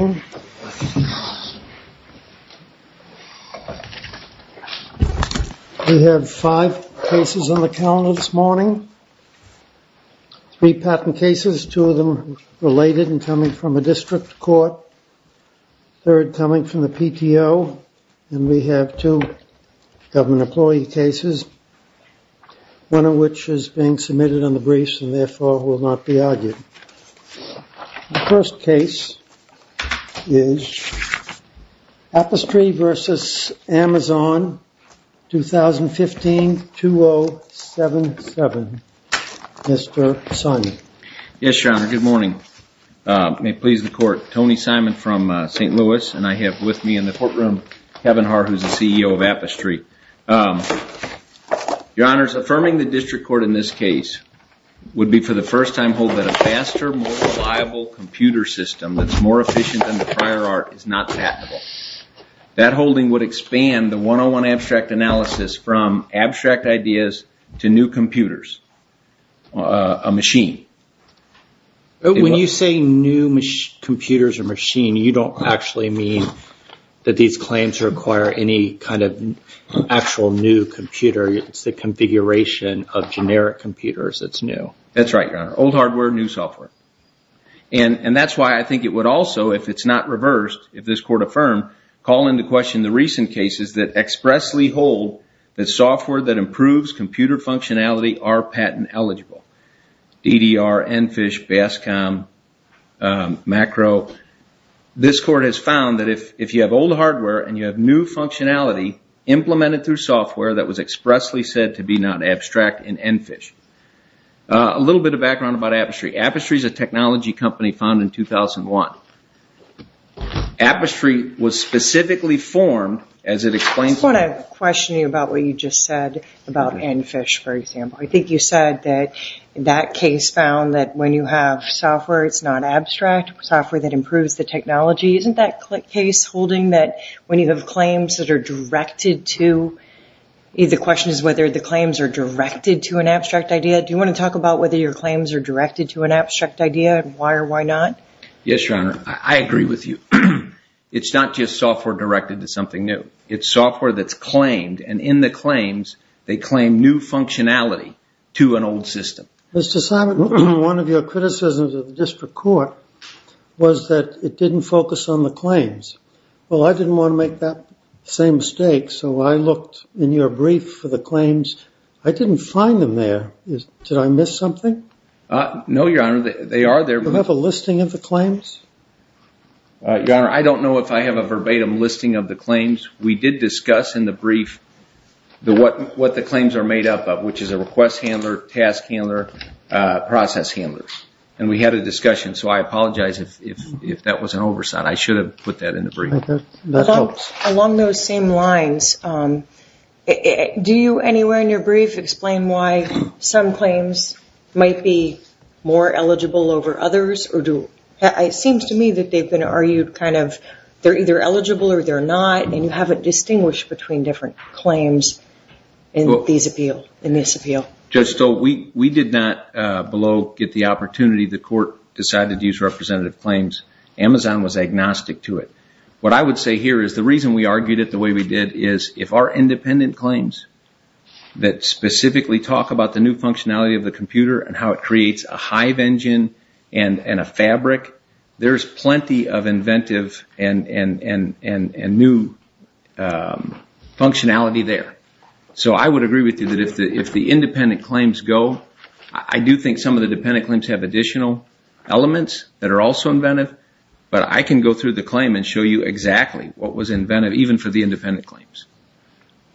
We have five cases on the calendar this morning. Three patent cases, two of them related and coming from a district court, third coming from the PTO, and we have two government employee cases, one of which is being submitted on the briefs and therefore will not be argued. The first case is Apistry v. Amazon, 2015-2077. Mr. Simon. Yes, Your Honor. Good morning. May it please the court. Tony Simon from St. Louis and I have with me in the courtroom Kevin Harr who is the CEO of Apistry. Your Honor, affirming the district court in this case would be for the first time hold that a faster, more reliable computer system that's more efficient than the prior art is not patentable. That holding would expand the 101 abstract analysis from abstract ideas to new computers, a machine. When you say new computers or machine, you don't actually mean that these claims require any kind of actual new computer. It's the configuration of generic computers that's new. That's right, Your Honor. Old hardware, new software. And that's why I think it would also, if it's not reversed, if this court affirmed, call into question the recent cases that expressly hold that software that improves computer functionality are patent eligible. DDR, EnFish, Bascom, Macro. This court has found that if you have old hardware and you have new functionality implemented through software that was expressly said to be not abstract in EnFish. A little bit of background about Apistry. Apistry is a technology company founded in 2001. Apistry was specifically formed as it explains... I just want to question you about what you just said about EnFish, for example. I think you said that that case found that when you have software, it's not abstract, software that improves the technology. Isn't that case holding that when you have claims that are directed to... The question is whether the claims are directed to an abstract idea. Do you want to talk about whether your claims are directed to an abstract idea and why or why not? Yes, Your Honor. I agree with you. It's not just software directed to something new. It's software that's claimed, and in the claims, they claim new functionality to an old system. Mr. Simon, one of your criticisms of the district court was that it didn't focus on the claims. Well, I didn't want to make that same mistake, so I looked in your brief for the claims. I didn't find them there. Did I miss something? No, Your Honor. They are there. Do you have a listing of the claims? Your Honor, I don't know if I have a verbatim listing of the claims. We did discuss in the brief what the claims are made up of, which is a request handler, task handler, process handler, and we had a discussion, so I apologize if that was an oversight. I should have put that in the brief. Along those same lines, do you anywhere in your brief explain why some claims might be more eligible over others? It seems to me that they've been argued kind of they're either eligible or they're not, and you haven't distinguished between different claims in this appeal. Judge Stoll, we did not below get the opportunity. The court decided to use representative claims. Amazon was agnostic to it. What I would say here is the reason we argued it the way we did is if our independent claims that specifically talk about the new functionality of the computer and how it creates a hive engine and a fabric, there's plenty of inventive and new functionality there. So I would agree with you that if the independent claims go, I do think some of the independent claims have additional elements that are also inventive, but I can go through the claim and show you exactly what was inventive even for the independent claims.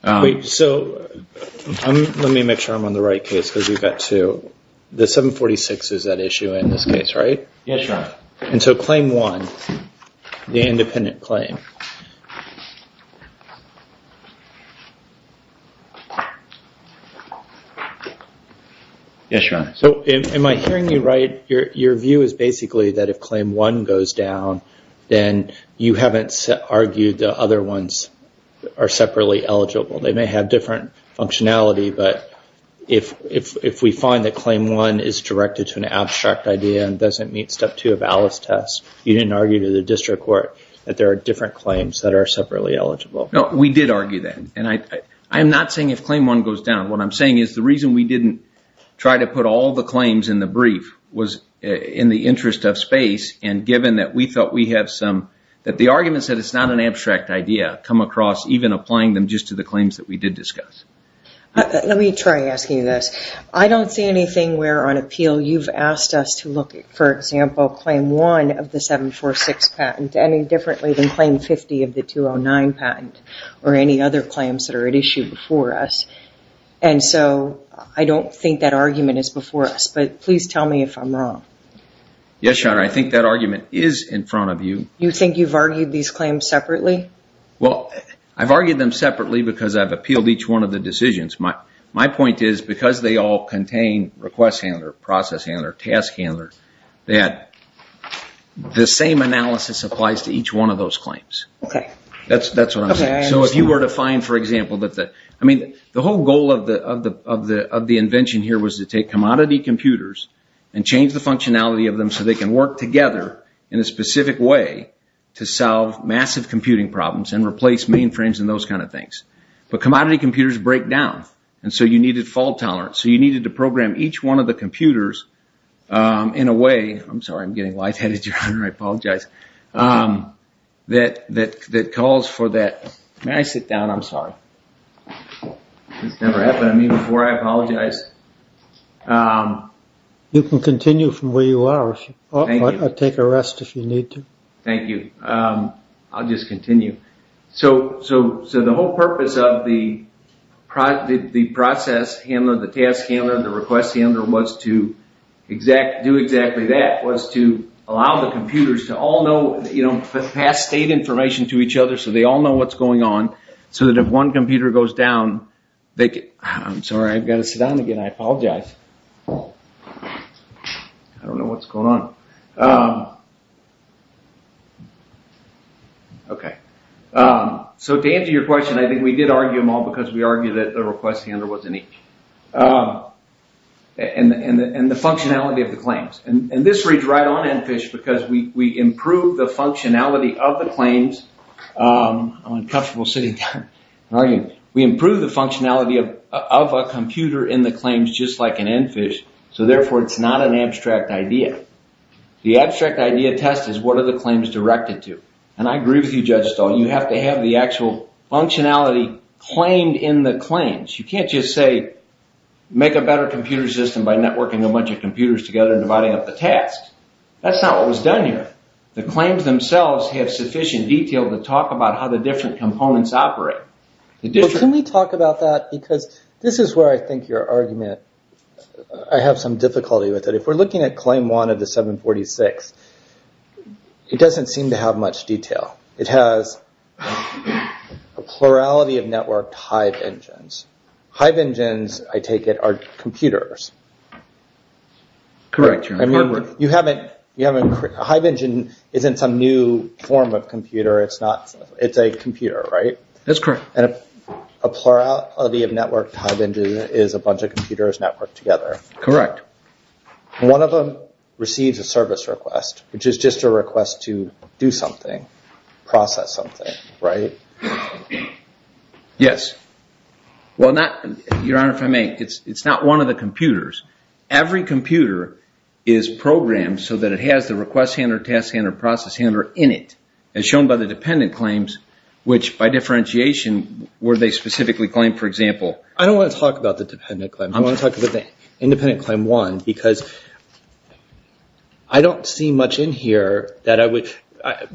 Let me make sure I'm on the right case because we've got two. The 746 is that issue in this case, right? Yes, Your Honor. And so claim one, the independent claim. Yes, Your Honor. So am I hearing you right? Your view is basically that if claim one goes down, then you haven't argued the other ones are separately eligible. They may have different functionality, but if we find that claim one is directed to an abstract idea and doesn't meet step two of Alice test, you didn't argue to the district court that there are different claims that are separately eligible. No, we did argue that. And I am not saying if claim one goes down. What I'm saying is the reason we didn't try to put all the claims in the brief was in the interest of space and given that we thought we had some, that the argument said it's not an abstract idea, come across even applying them just to the claims that we did discuss. Let me try asking you this. I don't see anything where on appeal you've asked us to look at, for example, claim one of the 746 patent any differently than claim 50 of the 209 patent or any other claims that are at issue before us. And so I don't think that argument is before us, but please tell me if I'm wrong. Yes, Your Honor, I think that argument is in front of you. You think you've argued these claims separately? Well, I've argued them separately because I've appealed each one of the decisions. My point is because they all contain request handler, process handler, task handler, that the same analysis applies to each one of those claims. Okay. That's what I'm saying. So if you were to find, for example, I mean the whole goal of the invention here was to take commodity computers and change the functionality of them so they can work together in a specific way to solve massive computing problems and replace mainframes and those kind of things. But commodity computers break down and so you needed fault tolerance. So you needed to program each one of the computers in a way, I'm sorry, I'm getting lightheaded, Your Honor, I apologize, that calls for that. May I sit down? I'm sorry. This never happened to me before. I apologize. You can continue from where you are. Thank you. I'll take a rest if you need to. Thank you. I'll just continue. So the whole purpose of the process handler, the task handler, the request handler was to do exactly that, was to allow the computers to all know, you know, pass state information to each other so they all know what's going on so that if one computer goes down, they can, I'm sorry, I've got to sit down again. I apologize. I don't know what's going on. Okay. So to answer your question, I think we did argue them all because we argued that the request handler wasn't each. And the functionality of the claims. And this reads right on Enfish because we improved the functionality of the claims. I'm uncomfortable sitting down. We improved the functionality of a computer in the claims just like in Enfish, so therefore it's not an abstract idea. The abstract idea test is what are the claims directed to. And I agree with you, Judge Stahl, you have to have the actual functionality claimed in the claims. You can't just say make a better computer system by networking a bunch of computers together and dividing up the tasks. That's not what was done here. The claims themselves have sufficient detail to talk about how the different components operate. Can we talk about that because this is where I think your argument, I have some difficulty with it. If we're looking at claim one of the 746, it doesn't seem to have much detail. It has a plurality of networked Hive engines. Hive engines, I take it, are computers. Correct. Hive engine isn't some new form of computer. It's a computer, right? That's correct. A plurality of networked Hive engines is a bunch of computers networked together. Correct. One of them receives a service request, which is just a request to do something, process something, right? Yes. Your Honor, if I may, it's not one of the computers. Every computer is programmed so that it has the request handler, task handler, process handler in it. As shown by the dependent claims, which by differentiation, were they specifically claimed, for example? I don't want to talk about the dependent claims. I want to talk about the independent claim one because I don't see much in here that I would...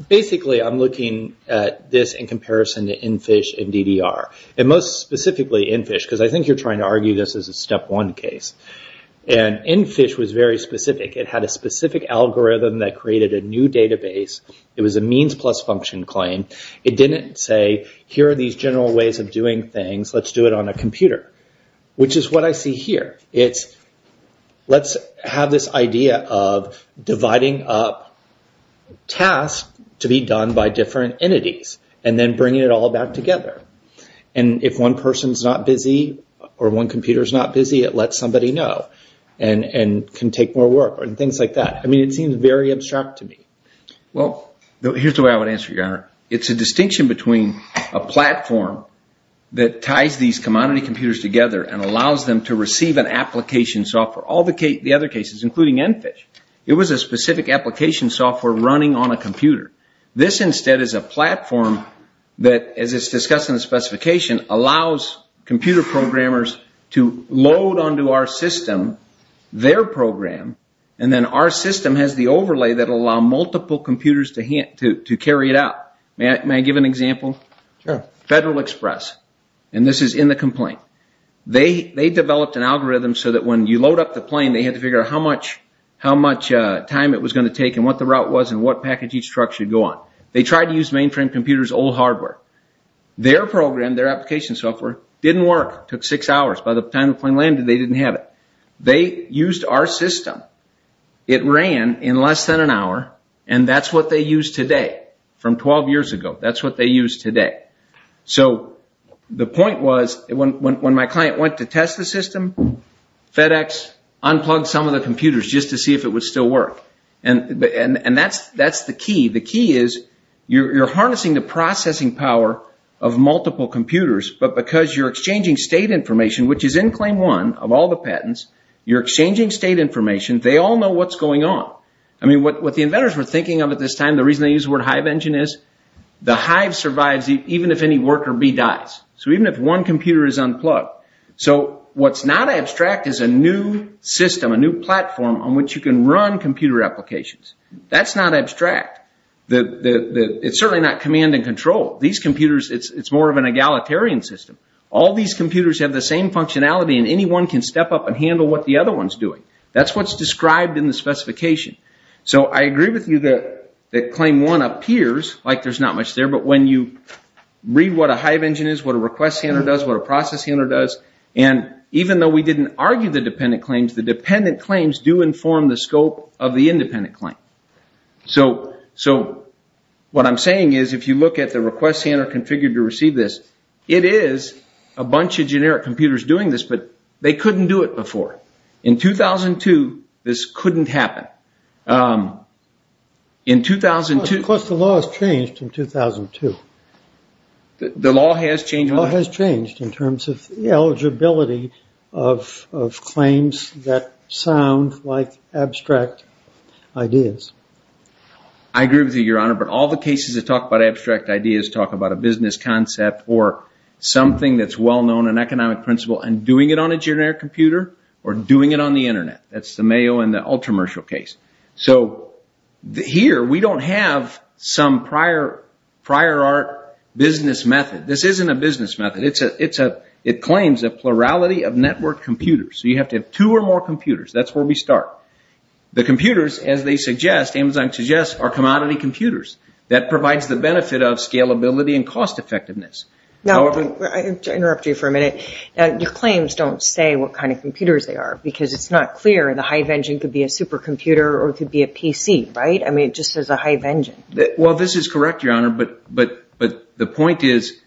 Basically, I'm looking at this in comparison to NFISH and DDR. Most specifically, NFISH, because I think you're trying to argue this is a step one case. NFISH was very specific. It had a specific algorithm that created a new database. It was a means plus function claim. It didn't say, here are these general ways of doing things. Let's do it on a computer, which is what I see here. Let's have this idea of dividing up tasks to be done by different entities and then bringing it all back together. If one person's not busy or one computer's not busy, it lets somebody know and can take more work and things like that. It seems very abstract to me. Here's the way I would answer, Your Honor. It's a distinction between a platform that ties these commodity computers together and allows them to receive an application software. All the other cases, including NFISH, it was a specific application software running on a computer. This instead is a platform that, as it's discussed in the specification, allows computer programmers to load onto our system their program. Then our system has the overlay that will allow multiple computers to carry it out. May I give an example? Federal Express. This is in the complaint. They developed an algorithm so that when you load up the plane, they had to figure out how much time it was going to take and what the route was and what package each truck should go on. They tried to use mainframe computers' old hardware. Their program, their application software, didn't work. It took six hours. By the time the plane landed, they didn't have it. They used our system. It ran in less than an hour, and that's what they use today from 12 years ago. That's what they use today. So the point was when my client went to test the system, FedEx unplugged some of the computers just to see if it would still work. That's the key. The key is you're harnessing the processing power of multiple computers, but because you're exchanging state information, which is in claim one of all the patents, you're exchanging state information. They all know what's going on. What the inventors were thinking of at this time, the reason they use the word hive engine, is the hive survives even if any worker B dies. So even if one computer is unplugged. So what's not abstract is a new system, a new platform on which you can run computer applications. That's not abstract. It's certainly not command and control. These computers, it's more of an egalitarian system. All these computers have the same functionality, and anyone can step up and handle what the other one's doing. That's what's described in the specification. So I agree with you that claim one appears like there's not much there, but when you read what a hive engine is, what a request center does, what a process center does, and even though we didn't argue the dependent claims, the dependent claims do inform the scope of the independent claim. So what I'm saying is if you look at the request center configured to receive this, it is a bunch of generic computers doing this, but they couldn't do it before. In 2002, this couldn't happen. Of course, the law has changed in 2002. The law has changed? In terms of the eligibility of claims that sound like abstract ideas. I agree with you, Your Honor, but all the cases that talk about abstract ideas talk about a business concept or something that's well-known, an economic principle, and doing it on a generic computer or doing it on the Internet. That's the Mayo and the Ultramershal case. So here, we don't have some prior art business method. This isn't a business method. It claims a plurality of network computers, so you have to have two or more computers. That's where we start. The computers, as they suggest, Amazon suggests, are commodity computers. That provides the benefit of scalability and cost-effectiveness. Now, let me interrupt you for a minute. Your claims don't say what kind of computers they are because it's not clear. The hive engine could be a supercomputer or it could be a PC, right? I mean, it just says a hive engine. Well, this is correct, Your Honor, but the point is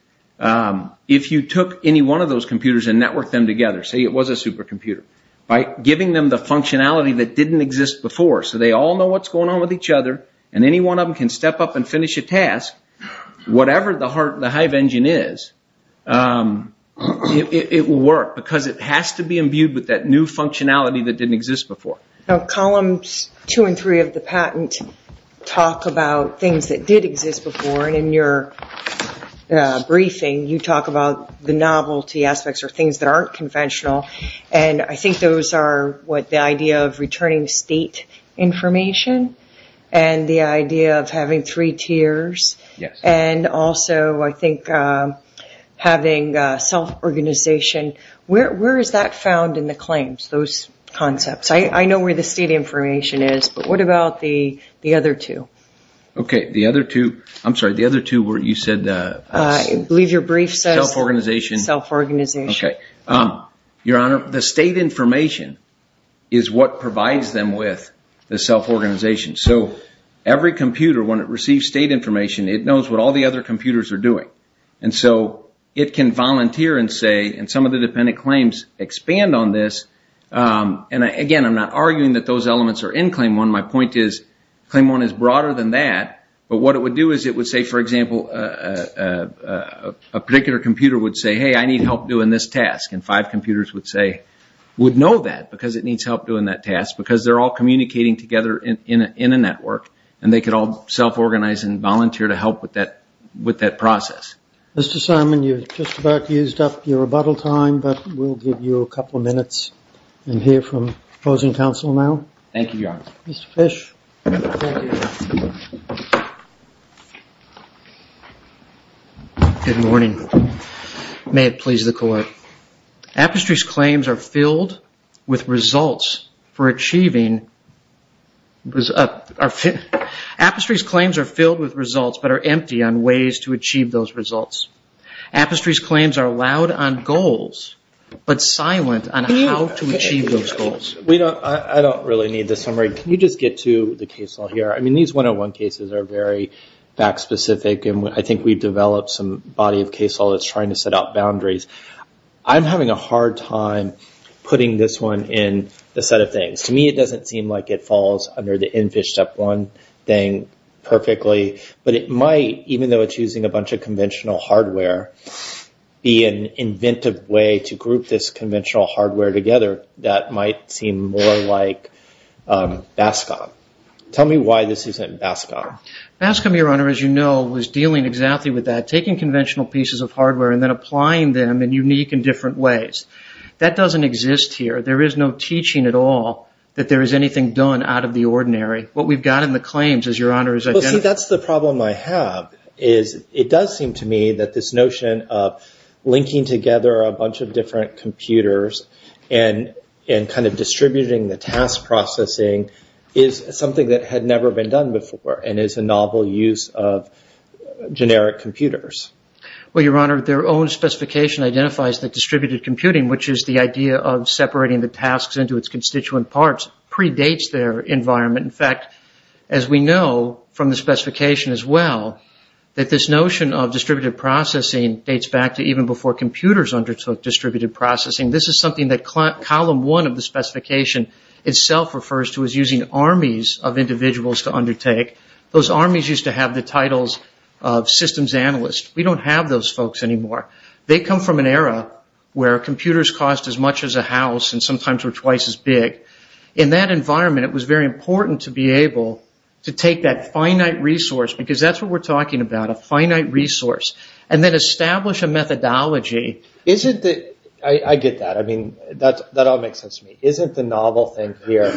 if you took any one of those computers and networked them together, say it was a supercomputer, by giving them the functionality that didn't exist before so they all know what's going on with each other and any one of them can step up and finish a task, whatever the hive engine is, it will work because it has to be imbued with that new functionality that didn't exist before. Columns two and three of the patent talk about things that did exist before, and in your briefing you talk about the novelty aspects or things that aren't conventional, and I think those are the idea of returning state information and the idea of having three tiers and also I think having self-organization. Where is that found in the claims, those concepts? I know where the state information is, but what about the other two? Okay, the other two, I'm sorry, the other two where you said self-organization. I believe your brief says self-organization. Okay. Your Honor, the state information is what provides them with the self-organization. So every computer, when it receives state information, it knows what all the other computers are doing, and so it can volunteer and say, and some of the dependent claims expand on this, and, again, I'm not arguing that those elements are in claim one. My point is claim one is broader than that, but what it would do is it would say, for example, a particular computer would say, hey, I need help doing this task, and five computers would say, would know that because it needs help doing that task because they're all communicating together in a network and they could all self-organize and volunteer to help with that process. Mr. Simon, you've just about used up your rebuttal time, but we'll give you a couple of minutes and hear from opposing counsel now. Thank you, Your Honor. Mr. Fish. Good morning. May it please the Court. Apastry's claims are filled with results, but are empty on ways to achieve those results. Apastry's claims are loud on goals, but silent on how to achieve those goals. I don't really need the summary. Can you just get to the case law here? I mean, these 101 cases are very fact-specific, and I think we've developed some body of case law that's trying to set out boundaries. I'm having a hard time putting this one in the set of things. To me, it doesn't seem like it falls under the EnFish Step 1 thing perfectly, but it might, even though it's using a bunch of conventional hardware, be an inventive way to group this conventional hardware together that might seem more like BASCOM. Tell me why this isn't BASCOM. BASCOM, Your Honor, as you know, was dealing exactly with that, taking conventional pieces of hardware and then applying them in unique and different ways. That doesn't exist here. There is no teaching at all that there is anything done out of the ordinary. What we've got in the claims, as Your Honor has identified— Well, see, that's the problem I have, is it does seem to me that this notion of linking together a bunch of different computers and kind of distributing the task processing is something that had never been done before and is a novel use of generic computers. Well, Your Honor, their own specification identifies that distributed computing, which is the idea of separating the tasks into its constituent parts, predates their environment. In fact, as we know from the specification as well, that this notion of distributed processing dates back to even before computers undertook distributed processing. This is something that column one of the specification itself refers to as using armies of individuals to undertake. Those armies used to have the titles of systems analysts. We don't have those folks anymore. They come from an era where computers cost as much as a house and sometimes were twice as big. In that environment, it was very important to be able to take that finite resource, because that's what we're talking about, a finite resource, and then establish a methodology. I get that. I mean, that all makes sense to me. Isn't the novel thing here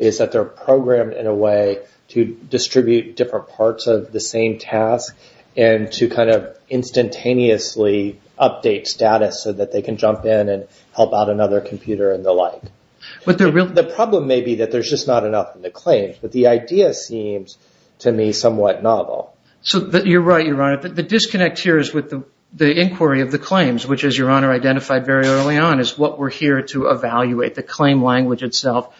is that they're programmed in a way to distribute different parts of the same task and to kind of instantaneously update status so that they can jump in and help out another computer and the like? The problem may be that there's just not enough in the claims, but the idea seems to me somewhat novel. You're right, Your Honor. The disconnect here is with the inquiry of the claims, which, as Your Honor identified very early on, is what we're here to evaluate, the claim language itself.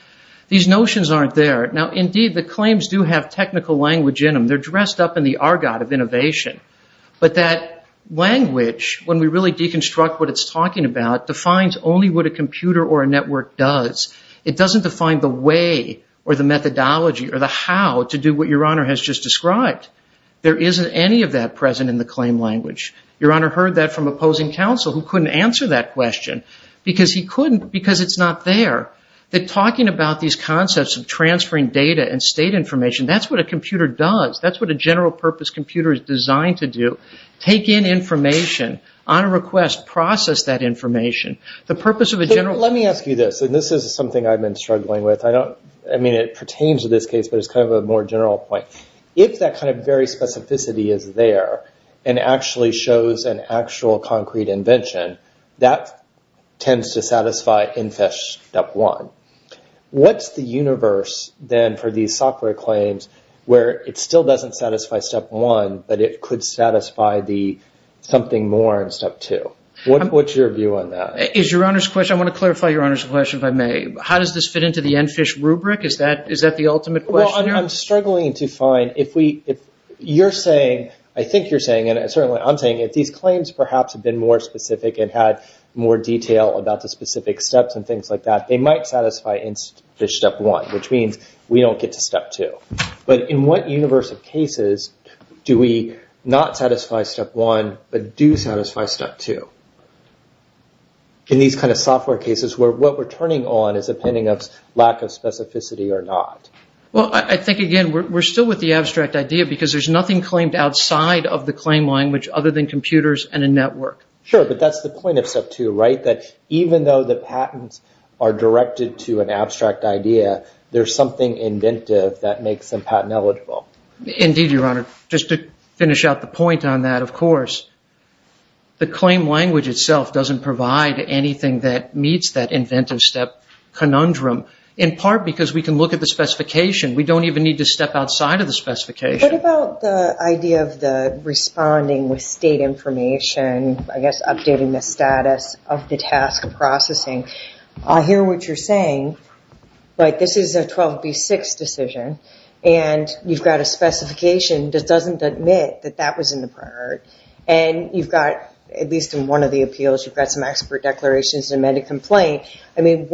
These notions aren't there. Now, indeed, the claims do have technical language in them. They're dressed up in the argot of innovation, but that language, when we really deconstruct what it's talking about, defines only what a computer or a network does. It doesn't define the way or the methodology or the how to do what Your Honor has just described. There isn't any of that present in the claim language. Your Honor heard that from opposing counsel who couldn't answer that question because he couldn't, because it's not there. They're talking about these concepts of transferring data and state information. That's what a computer does. That's what a general-purpose computer is designed to do, take in information on a request, process that information. Let me ask you this, and this is something I've been struggling with. I mean, it pertains to this case, but it's kind of a more general point. If that kind of very specificity is there and actually shows an actual concrete invention, that tends to satisfy INFEST Step 1. What's the universe, then, for these software claims where it still doesn't satisfy Step 1, but it could satisfy the something more in Step 2? What's your view on that? I want to clarify Your Honor's question, if I may. How does this fit into the NFISH rubric? Is that the ultimate question here? I'm struggling to find. I think you're saying, and certainly I'm saying, if these claims perhaps had been more specific and had more detail about the specific steps and things like that, they might satisfy NFISH Step 1, which means we don't get to Step 2. But in what universe of cases do we not satisfy Step 1 but do satisfy Step 2? In these kind of software cases, what we're turning on is a pending of lack of specificity or not. Well, I think, again, we're still with the abstract idea because there's nothing claimed outside of the claim language other than computers and a network. Sure, but that's the point of Step 2, right? That even though the patents are directed to an abstract idea, there's something inventive that makes them patent eligible. Indeed, Your Honor. Just to finish out the point on that, of course, the claim language itself doesn't provide anything that meets that inventive step conundrum, in part because we can look at the specification. We don't even need to step outside of the specification. What about the idea of the responding with state information, I hear what you're saying. This is a 12B6 decision, and you've got a specification that doesn't admit that that was in the prior. And you've got, at least in one of the appeals, you've got some expert declarations and an amended complaint. I mean,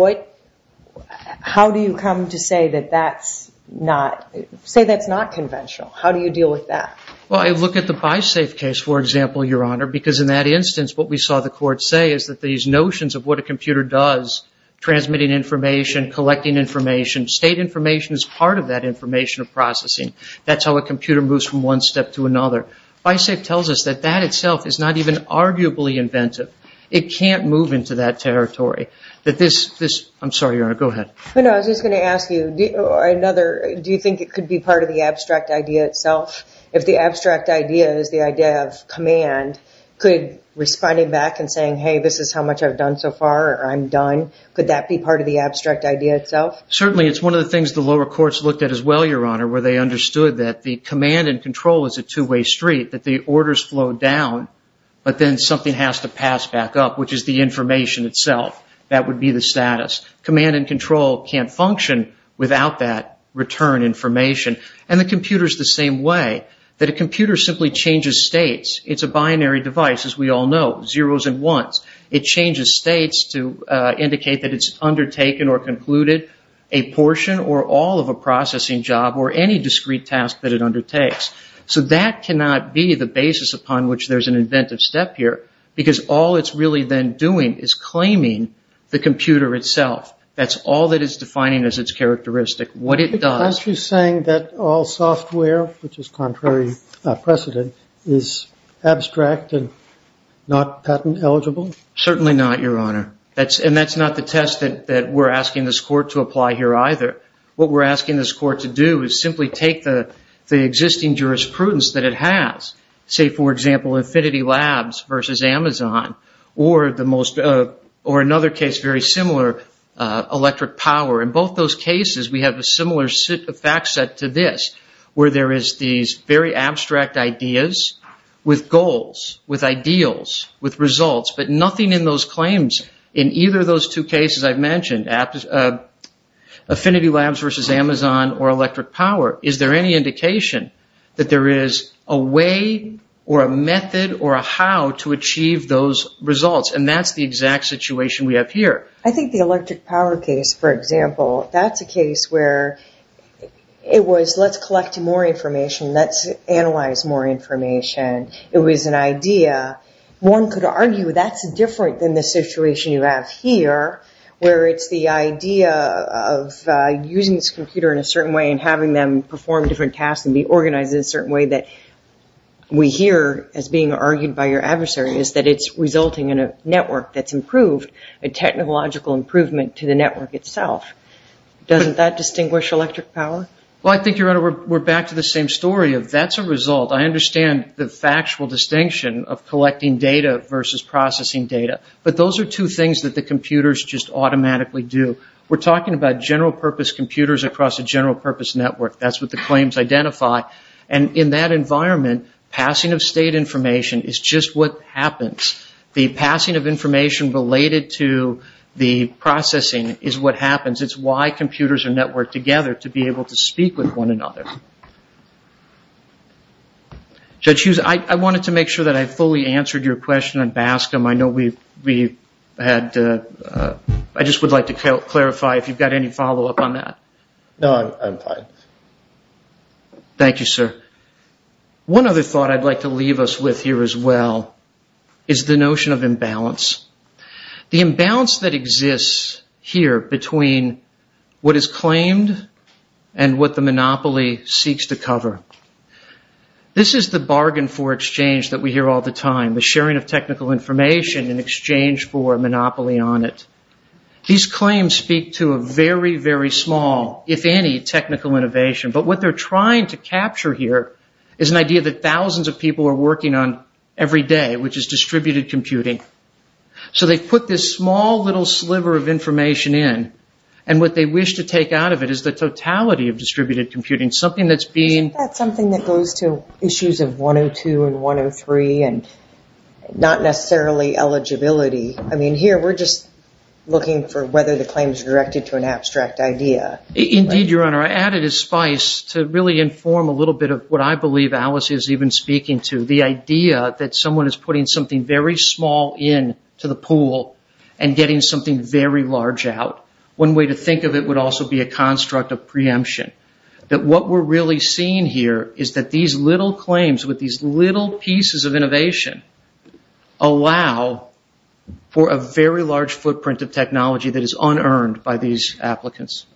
how do you come to say that that's not conventional? How do you deal with that? Well, I look at the BiSafe case, for example, Your Honor, because in that instance what we saw the court say is that these notions of what a computer does, transmitting information, collecting information, state information is part of that information processing. That's how a computer moves from one step to another. BiSafe tells us that that itself is not even arguably inventive. It can't move into that territory. I'm sorry, Your Honor. Go ahead. I was just going to ask you, do you think it could be part of the abstract idea itself? If the abstract idea is the idea of command, could responding back and saying, hey, this is how much I've done so far, or I'm done, could that be part of the abstract idea itself? Certainly. It's one of the things the lower courts looked at as well, Your Honor, where they understood that the command and control is a two-way street, that the orders flow down, but then something has to pass back up, which is the information itself. That would be the status. Command and control can't function without that return information. And the computer is the same way, that a computer simply changes states. It's a binary device, as we all know, zeros and ones. It changes states to indicate that it's undertaken or concluded a portion or all of a processing job or any discrete task that it undertakes. So that cannot be the basis upon which there's an inventive step here, because all it's really then doing is claiming the computer itself. That's all that it's defining as its characteristic. What it does... Abstract and not patent eligible? Certainly not, Your Honor. And that's not the test that we're asking this court to apply here either. What we're asking this court to do is simply take the existing jurisprudence that it has, say, for example, Infinity Labs versus Amazon, or another case very similar, electric power. In both those cases, we have a similar fact set to this, where there is these very abstract ideas with goals, with ideals, with results, but nothing in those claims in either of those two cases I've mentioned, Affinity Labs versus Amazon or electric power. Is there any indication that there is a way or a method or a how to achieve those results? And that's the exact situation we have here. I think the electric power case, for example, that's a case where it was let's collect more information, let's analyze more information. It was an idea. One could argue that's different than the situation you have here, where it's the idea of using this computer in a certain way and having them perform different tasks and be organized in a certain way that we hear as being argued by your adversary, is that it's resulting in a network that's improved, a technological improvement to the network itself. Doesn't that distinguish electric power? Well, I think, Your Honor, we're back to the same story of that's a result. I understand the factual distinction of collecting data versus processing data, but those are two things that the computers just automatically do. We're talking about general-purpose computers across a general-purpose network. That's what the claims identify. And in that environment, passing of state information is just what happens. The passing of information related to the processing is what happens. It's why computers are networked together, to be able to speak with one another. Judge Hughes, I wanted to make sure that I fully answered your question on BASCM. I know we had to – I just would like to clarify if you've got any follow-up on that. No, I'm fine. Thank you, sir. One other thought I'd like to leave us with here as well is the notion of imbalance, the imbalance that exists here between what is claimed and what the monopoly seeks to cover. This is the bargain for exchange that we hear all the time, the sharing of technical information in exchange for a monopoly on it. These claims speak to a very, very small, if any, technical innovation. But what they're trying to capture here is an idea that thousands of people are working on every day, which is distributed computing. So they've put this small little sliver of information in, and what they wish to take out of it is the totality of distributed computing, something that's being – Isn't that something that goes to issues of 102 and 103 and not necessarily eligibility? I mean, here we're just looking for whether the claim is directed to an abstract idea. Indeed, Your Honor. I added a spice to really inform a little bit of what I believe Alice is even speaking to, the idea that someone is putting something very small in to the pool and getting something very large out. One way to think of it would also be a construct of preemption, that what we're really seeing here is that these little claims with these little pieces of innovation allow for a very large footprint of technology that is unearned by these applicants.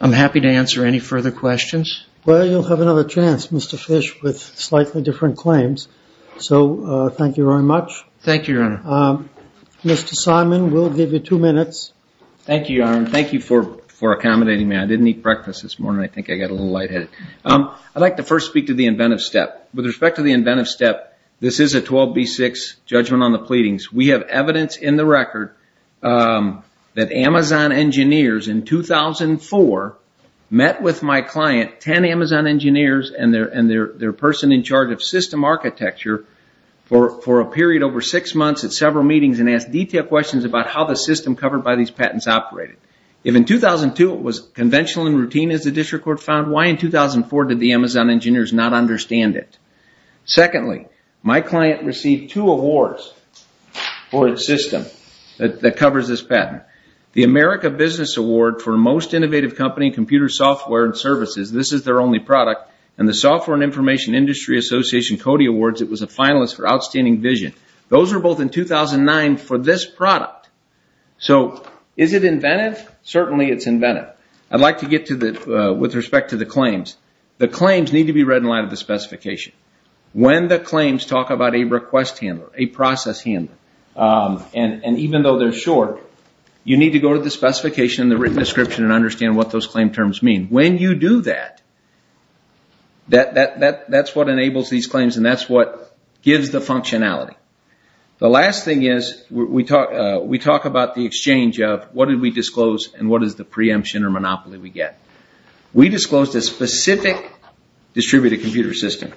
I'm happy to answer any further questions. Well, you'll have another chance, Mr. Fish, with slightly different claims. So thank you very much. Thank you, Your Honor. Mr. Simon, we'll give you two minutes. Thank you, Your Honor, and thank you for accommodating me. I didn't eat breakfast this morning. I think I got a little lightheaded. I'd like to first speak to the inventive step. With respect to the inventive step, this is a 12B6 judgment on the pleadings. We have evidence in the record that Amazon engineers in 2004 met with my client, 10 Amazon engineers and their person in charge of system architecture, for a period over six months at several meetings and asked detailed questions about how the system covered by these patents operated. If in 2002 it was conventional and routine, as the district court found, why in 2004 did the Amazon engineers not understand it? Secondly, my client received two awards for its system that covers this patent. The America Business Award for Most Innovative Company Computer Software and Services, this is their only product, and the Software and Information Industry Association Cody Awards, it was a finalist for Outstanding Vision. Those were both in 2009 for this product. So is it inventive? Certainly it's inventive. I'd like to get with respect to the claims. The claims need to be read in light of the specification. When the claims talk about a request handler, a process handler, and even though they're short, you need to go to the specification and the written description and understand what those claim terms mean. When you do that, that's what enables these claims and that's what gives the functionality. The last thing is we talk about the exchange of what did we disclose and what is the preemption or monopoly we get. We disclosed a specific distributed computer system.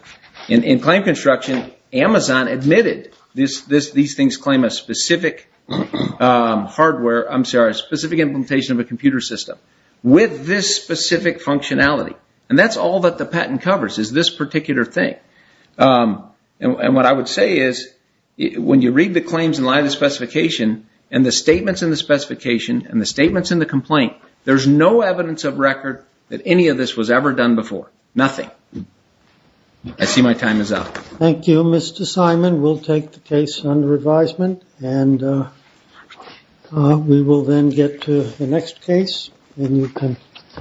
In claim construction, Amazon admitted these things claim a specific hardware, I'm sorry, a specific implementation of a computer system with this specific functionality. That's all that the patent covers is this particular thing. What I would say is when you read the claims in light of the specification and the statements in the specification and the statements in the complaint, there's no evidence of record that any of this was ever done before. Nothing. I see my time is up. Thank you, Mr. Simon. We'll take the case under advisement and we will then get to the next case.